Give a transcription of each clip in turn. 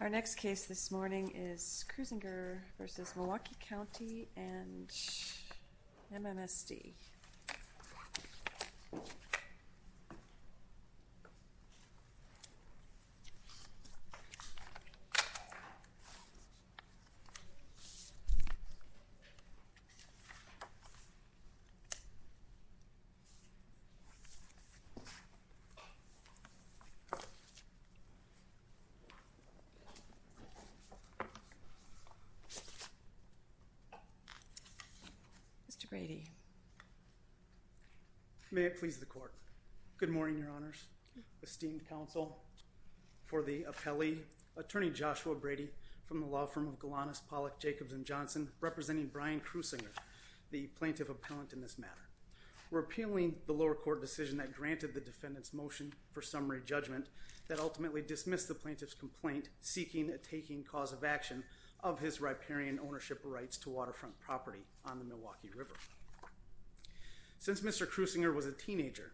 Our next case this morning is Kreuziger v. Milwaukee County and MMSD. Mr. Brady May it please the court. Good morning, Your Honors. Esteemed counsel for the appellee, Attorney Joshua Brady from the law firm of Golanus, Pollock, Jacobs & Johnson representing Brian Kreuziger, the plaintiff appellant in this matter. Repealing the lower court decision that granted the defendant's motion for summary judgment that ultimately dismissed the plaintiff's complaint seeking a taking cause of action of his riparian ownership rights to waterfront property on the Milwaukee River. Since Mr. Kreuziger was a teenager,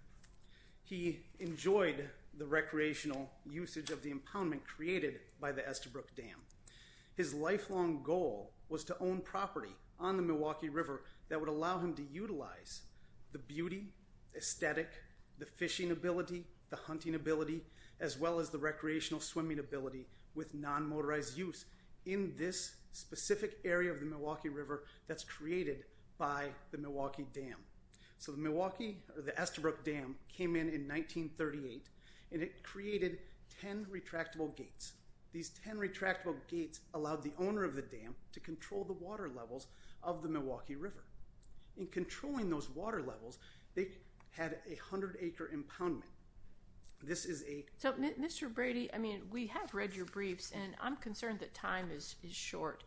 he enjoyed the recreational usage of the impoundment created by the Estabrook Dam. His lifelong goal was to own property on the Milwaukee River that would allow him to utilize the beauty, aesthetic, the fishing ability, the hunting ability, as well as the recreational swimming ability with non-motorized use in this specific area of the Milwaukee River that's created by the Milwaukee Dam. So the Milwaukee or the Estabrook Dam came in in 1938 and it created 10 retractable gates. These 10 retractable gates allowed the owner of the dam to control the water levels of the Milwaukee River. In controlling those water levels, they had a 100-acre impoundment. This is a- So Mr. Brady, I mean, we have read your briefs and I'm concerned that time is short.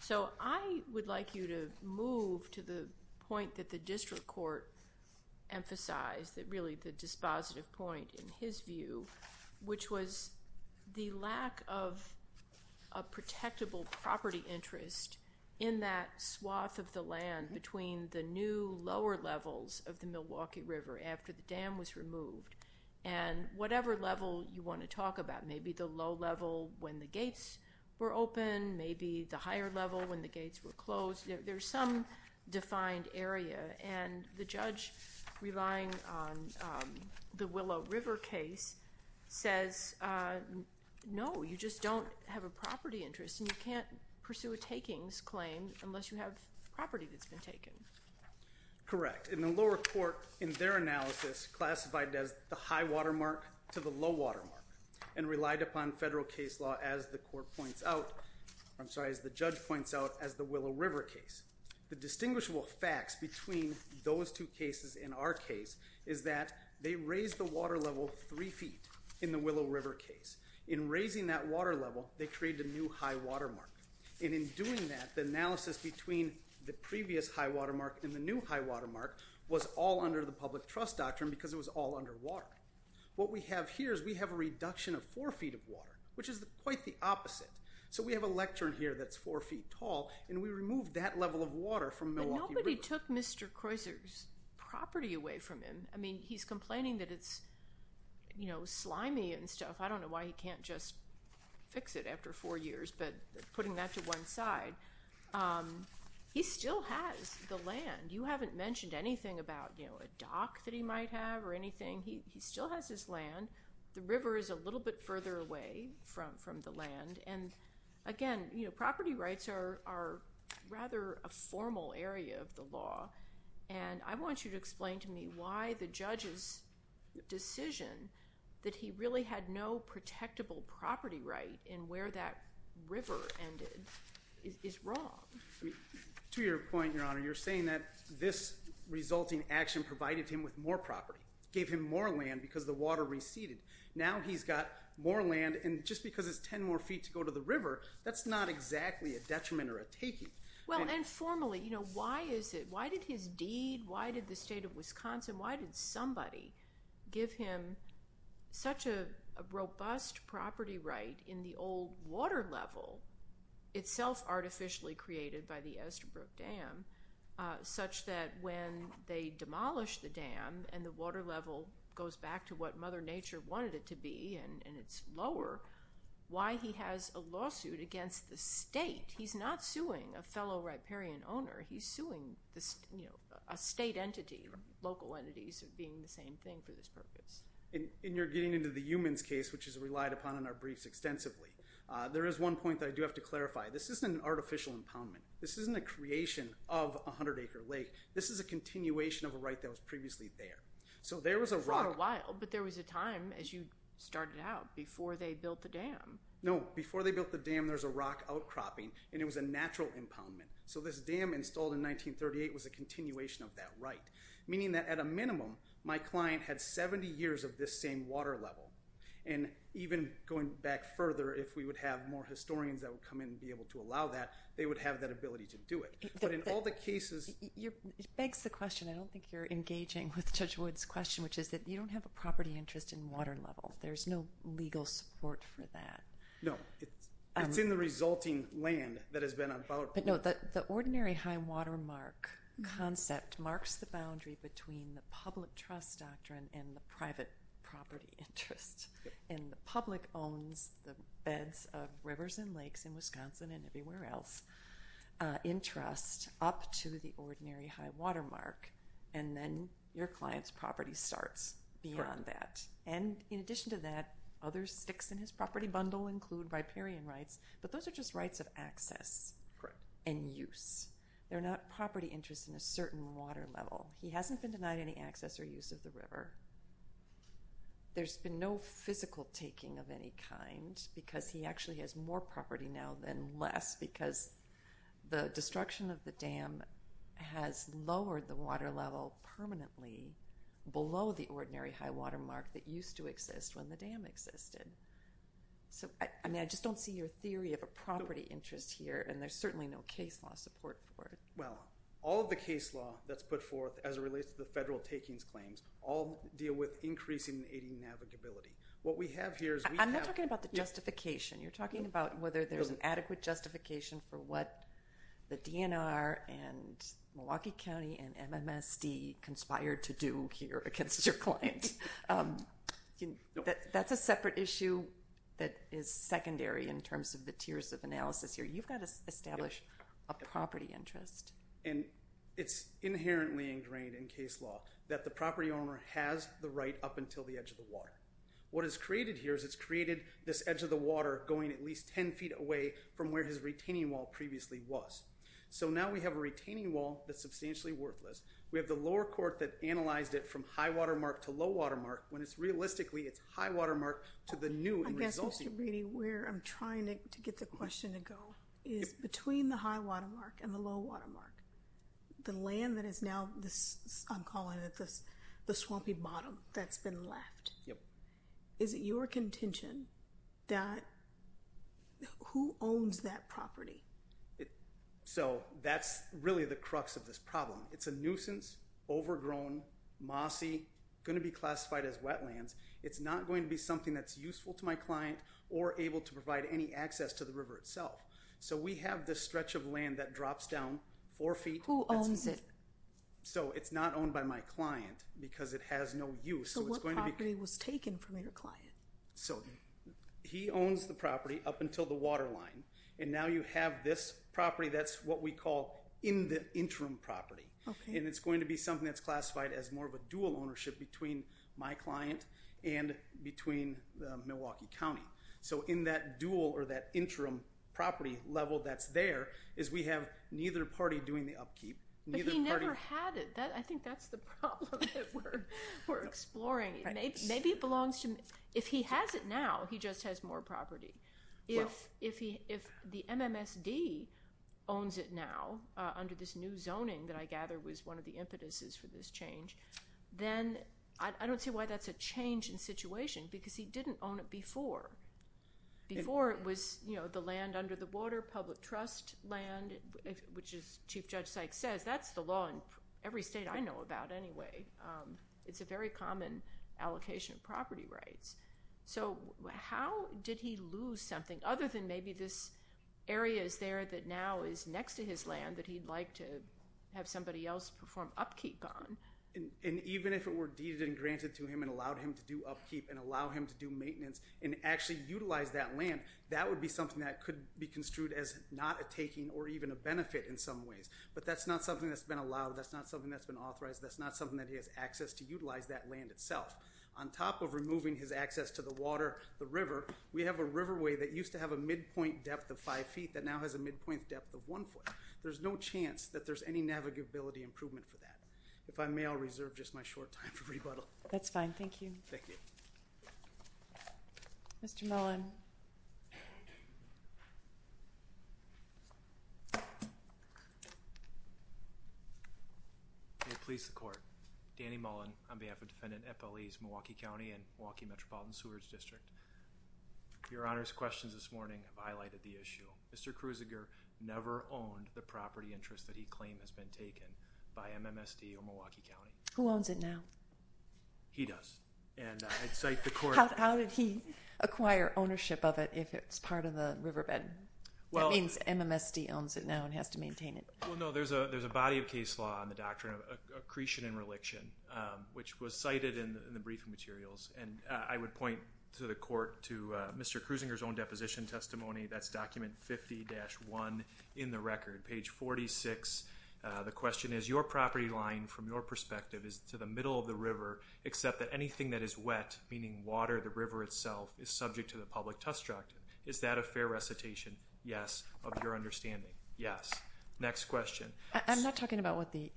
So I would like you to move to the point that the district court emphasized that really the dispositive point in his view, which was the lack of a protectable property interest in that swath of the land between the new lower levels of the Milwaukee River after the dam was removed and whatever level you want to talk about, maybe the low level when the gates were open, maybe the higher level when the gates were closed. There's some defined area and the judge relying on the Willow River case says, no, you just don't have a property interest and you can't pursue a takings claim unless you have property that's been taken. Correct. In the lower court, in their analysis, classified as the high watermark to the low watermark and relied upon federal case law as the court points out, I'm sorry, as the judge points out as the Willow River case. The distinguishable facts between those two cases in our case is that they raised the water level three feet in the Willow River case. In raising that water level, they created a new high watermark. And in doing that, the analysis between the previous high watermark and the new high watermark was all under the public trust doctrine because it was all underwater. What we have here is we have a reduction of four feet of water, which is quite the opposite. So we have a lectern here that's four feet tall and we removed that level of water from Milwaukee River. But nobody took Mr. Croiser's property away from him. I mean, he's complaining that it's, you know, slimy and stuff. I don't know why he can't just fix it after four years, but putting that to one side. He still has the land. You haven't mentioned anything about, you know, a dock that he might have or anything. He still has his land. The river is a little bit further away from the land. And again, you know, property rights are rather a formal area of the law. And I want you to explain to me why the judge's decision that he really had no protectable property right in where that river ended is wrong. To your point, Your Honor, you're saying that this resulting action provided him with more Now he's got more land, and just because it's ten more feet to go to the river, that's not exactly a detriment or a taking. Well, and formally, you know, why is it, why did his deed, why did the state of Wisconsin, why did somebody give him such a robust property right in the old water level, itself artificially created by the Estabrook Dam, such that when they demolished the dam and the water level goes back to what Mother Nature wanted it to be, and it's lower, why he has a lawsuit against the state? He's not suing a fellow riparian owner. He's suing, you know, a state entity, local entities being the same thing for this purpose. And you're getting into the Eumann's case, which is relied upon in our briefs extensively. There is one point that I do have to clarify. This isn't an artificial impoundment. This isn't a creation of a hundred acre lake. This is a continuation of a right that was previously there. So there was a rock. For a while. But there was a time, as you started out, before they built the dam. No, before they built the dam, there was a rock outcropping, and it was a natural impoundment. So this dam installed in 1938 was a continuation of that right, meaning that at a minimum, my client had 70 years of this same water level. And even going back further, if we would have more historians that would come in and be able to allow that, they would have that ability to do it. But in all the cases... It begs the question, I don't think you're engaging with Judge Wood's question, which is that you don't have a property interest in water level. There's no legal support for that. No. It's in the resulting land that has been impounded. But no, the ordinary high water mark concept marks the boundary between the public trust doctrine and the private property interest. And the public owns the beds of rivers and lakes in Wisconsin and everywhere else in the state. So you have public trust up to the ordinary high water mark, and then your client's property starts beyond that. And in addition to that, other sticks in his property bundle include riparian rights, but those are just rights of access and use. They're not property interests in a certain water level. He hasn't been denied any access or use of the river. There's been no physical taking of any kind, because he actually has more property now than less, because the destruction of the dam has lowered the water level permanently below the ordinary high water mark that used to exist when the dam existed. So I mean, I just don't see your theory of a property interest here, and there's certainly no case law support for it. Well, all of the case law that's put forth as it relates to the federal takings claims all deal with increasing and aiding navigability. What we have here is we have... I'm not talking about the justification. You're talking about whether there's an adequate justification for what the DNR and Milwaukee County and MMSD conspired to do here against your client. That's a separate issue that is secondary in terms of the tiers of analysis here. You've got to establish a property interest. And it's inherently ingrained in case law that the property owner has the right up until the edge of the water. What is created here is it's created this edge of the water going at least 10 feet away from where his retaining wall previously was. So now we have a retaining wall that's substantially worthless. We have the lower court that analyzed it from high water mark to low water mark, when it's realistically it's high water mark to the new and resulting... I guess, Mr. Brady, where I'm trying to get the question to go is between the high water mark and the low water mark, the land that is now, I'm calling it the swampy bottom that's been left. Is it your contention that who owns that property? So that's really the crux of this problem. It's a nuisance, overgrown, mossy, going to be classified as wetlands. It's not going to be something that's useful to my client or able to provide any access to the river itself. So we have this stretch of land that drops down four feet. Who owns it? So it's not owned by my client because it has no use. So what property was taken from your client? So he owns the property up until the water line. And now you have this property that's what we call in the interim property. And it's going to be something that's classified as more of a dual ownership between my client and between Milwaukee County. So in that dual or that interim property level that's there is we have neither party doing the upkeep. But he never had it. I think that's the problem that we're exploring. Maybe it belongs to him. If he has it now, he just has more property. If the MMSD owns it now under this new zoning that I gather was one of the impetuses for this change, then I don't see why that's a change in situation because he didn't own it before. Before it was the land under the water, public trust land, which as Chief Judge Sykes says, that's the law in every state I know about anyway. It's a very common allocation of property rights. So how did he lose something other than maybe this area is there that now is next to his land that he'd like to have somebody else perform upkeep on? And even if it were deeded and granted to him and allowed him to do upkeep and allow him to do maintenance and actually utilize that land, that would be something that could be construed as not a taking or even a benefit in some ways. But that's not something that's been allowed. That's not something that's been authorized. That's not something that he has access to utilize that land itself. On top of removing his access to the water, the river, we have a riverway that used to have a midpoint depth of five feet that now has a midpoint depth of one foot. There's no chance that there's any navigability improvement for that. If I may, I'll reserve just my short time for rebuttal. That's fine. Thank you. Thank you. Mr. Mullen. May it please the Court, Danny Mullen on behalf of Defendant Eppelee's Milwaukee County and Milwaukee Metropolitan Sewerage District. Your Honor's questions this morning have highlighted the issue. Mr. Kruziger never owned the property interest that he claimed has been taken by MMSD or Milwaukee County. Who owns it now? He does. And I'd cite the Court. How did he acquire ownership of it if it's part of the riverbed? That means MMSD owns it now and has to maintain it. Well, no. There's a body of case law on the doctrine of accretion and reliction, which was cited in the briefing materials. And I would point to the Court to Mr. Kruziger's own deposition testimony. That's document 50-1 in the record, page 46. The question is, your property line from your perspective is to the middle of the river except that anything that is wet, meaning water, the river itself, is subject to the public trust doctrine. Is that a fair recitation? Yes. Of your understanding? Yes. Next question. I'm not talking about what the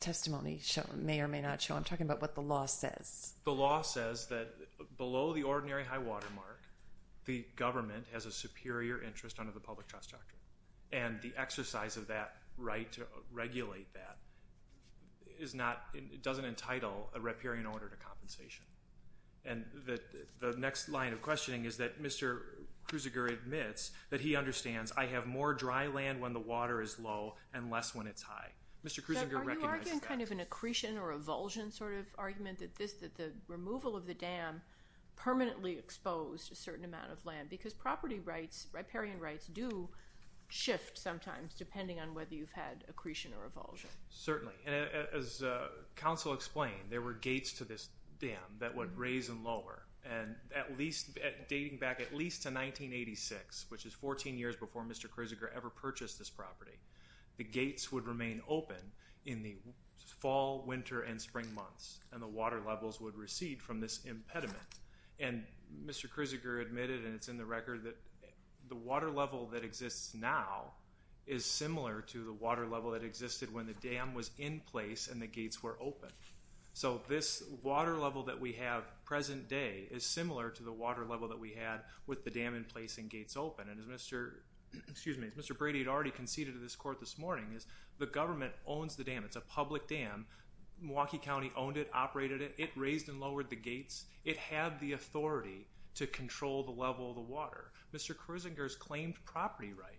testimony may or may not show. I'm talking about what the law says. The law says that below the ordinary high water mark, the government has a superior interest under the public trust doctrine. And the exercise of that right to regulate that doesn't entitle a riparian order to compensation. And the next line of questioning is that Mr. Kruziger admits that he understands I have more dry land when the water is low and less when it's high. Mr. Kruziger recognizes that. Are you arguing kind of an accretion or avulsion sort of argument that the removal of the dam permanently exposed a certain amount of land? Because property rights, riparian rights, do shift sometimes depending on whether you've had accretion or avulsion. Certainly. And as counsel explained, there were gates to this dam that would raise and lower. And at least, dating back at least to 1986, which is 14 years before Mr. Kruziger ever purchased this property, the gates would remain open in the fall, winter, and spring months. And the water levels would recede from this impediment. And Mr. Kruziger admitted, and it's in the record, that the water level that exists now is similar to the water level that existed when the dam was in place and the gates were open. So this water level that we have present day is similar to the water level that we had with the dam in place and gates open. And as Mr. Brady had already conceded to this court this morning, is the government owns the dam. It's a public dam. Milwaukee County owned it, operated it. It raised and lowered the gates. It had the authority to control the level of the water. Mr. Kruziger's claimed property right,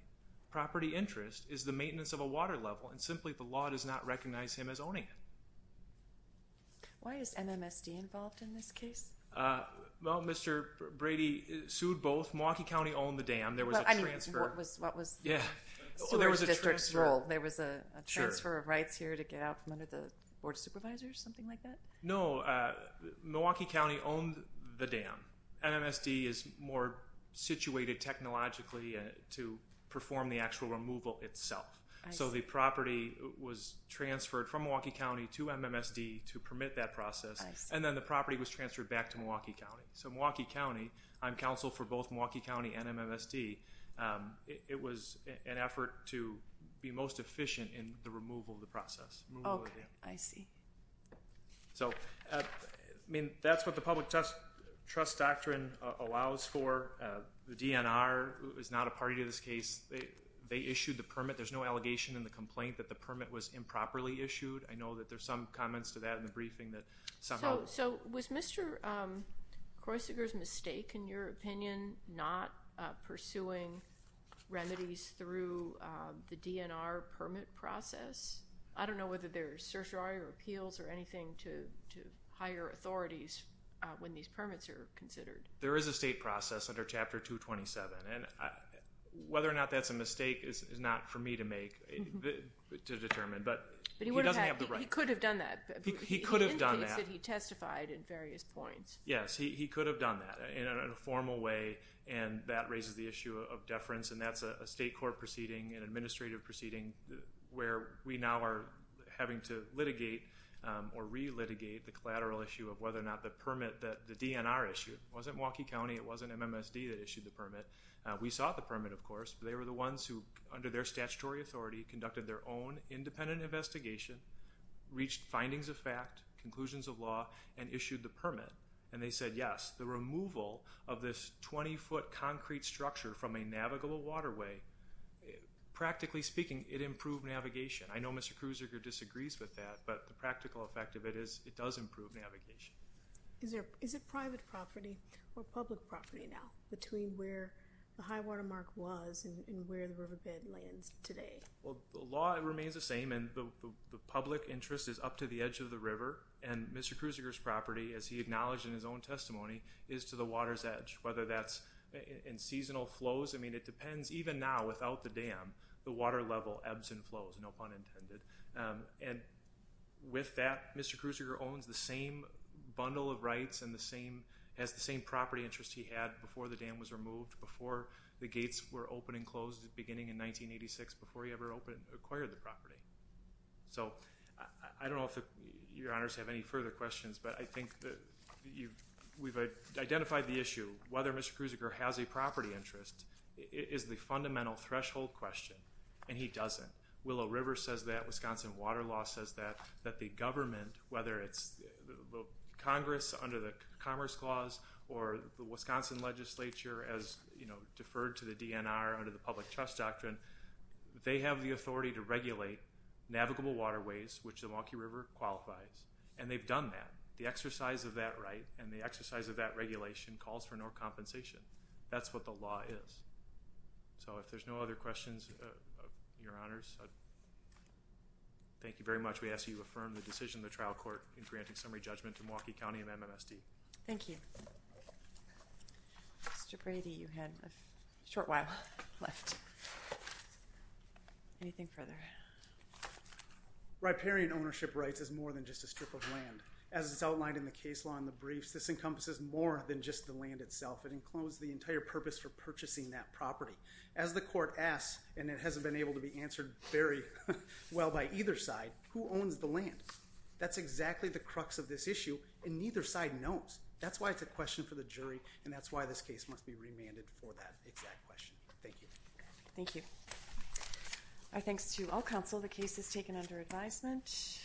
property interest, is the maintenance of a water level and simply the law does not recognize him as owning it. Why is MMSD involved in this case? Well, Mr. Brady sued both. Milwaukee County owned the dam. There was a transfer. I mean, what was the Sewers District's role? There was a transfer of rights here to get out from under the board of supervisors, something like that? No. So Milwaukee County owned the dam. MMSD is more situated technologically to perform the actual removal itself. So the property was transferred from Milwaukee County to MMSD to permit that process. And then the property was transferred back to Milwaukee County. So Milwaukee County, I'm counsel for both Milwaukee County and MMSD. It was an effort to be most efficient in the removal of the process. Okay, I see. So, I mean, that's what the public trust doctrine allows for. The DNR is not a party to this case. They issued the permit. There's no allegation in the complaint that the permit was improperly issued. I know that there's some comments to that in the briefing that somehow... So was Mr. Kruziger's mistake, in your opinion, not pursuing remedies through the DNR permit process? I don't know whether there's certiorari or appeals or anything to hire authorities when these permits are considered. There is a state process under Chapter 227. And whether or not that's a mistake is not for me to make, to determine. But he doesn't have the right... But he could have done that. He could have done that. He indicates that he testified in various points. Yes, he could have done that in a formal way. And that raises the issue of deference. And that's a state court proceeding, an administrative proceeding, where we now are having to litigate or re-litigate the collateral issue of whether or not the permit that the DNR issued... It wasn't Milwaukee County. It wasn't MMSD that issued the permit. We sought the permit, of course. But they were the ones who, under their statutory authority, conducted their own independent investigation, reached findings of fact, conclusions of law, and issued the permit. And they said, yes, the removal of this 20-foot concrete structure from a navigable waterway, practically speaking, it improved navigation. I know Mr. Kruziger disagrees with that, but the practical effect of it is it does improve navigation. Is it private property or public property now, between where the high-water mark was and where the riverbed lands today? Well, the law remains the same, and the public interest is up to the edge of the river. And Mr. Kruziger's property, as he acknowledged in his own testimony, is to the water's edge. Whether that's in seasonal flows, I mean, it depends. Even now, without the dam, the water level ebbs and flows, no pun intended. And with that, Mr. Kruziger owns the same bundle of rights and has the same property interest he had before the dam was removed, before the gates were opened and closed beginning in 1986, before he ever acquired the property. So I don't know if your honors have any further questions, but I think that we've identified the issue. Whether Mr. Kruziger has a property interest is the fundamental threshold question, and he doesn't. Willow River says that. Wisconsin Water Law says that. That the government, whether it's Congress under the Commerce Clause or the Wisconsin legislature as deferred to the DNR under the Public Trust Doctrine, they have the authority to regulate navigable waterways, which the Milwaukee River qualifies. And they've done that. The exercise of that right and the exercise of that regulation calls for no compensation. That's what the law is. So if there's no other questions, your honors, thank you very much. We ask that you affirm the decision of the trial court in granting summary judgment to Milwaukee County of MMSD. Thank you. Mr. Brady, you had a short while left. Anything further? Riparian ownership rights is more than just a strip of land. As it's outlined in the case law in the briefs, this encompasses more than just the land itself. It includes the entire purpose for purchasing that property. As the court asks, and it hasn't been able to be answered very well by either side, who owns the land? That's exactly the crux of this issue, and neither side knows. That's why it's a question for the jury, and that's why this case must be remanded for that exact question. Thank you. Thank you. Our thanks to all counsel. The case is taken under advisement.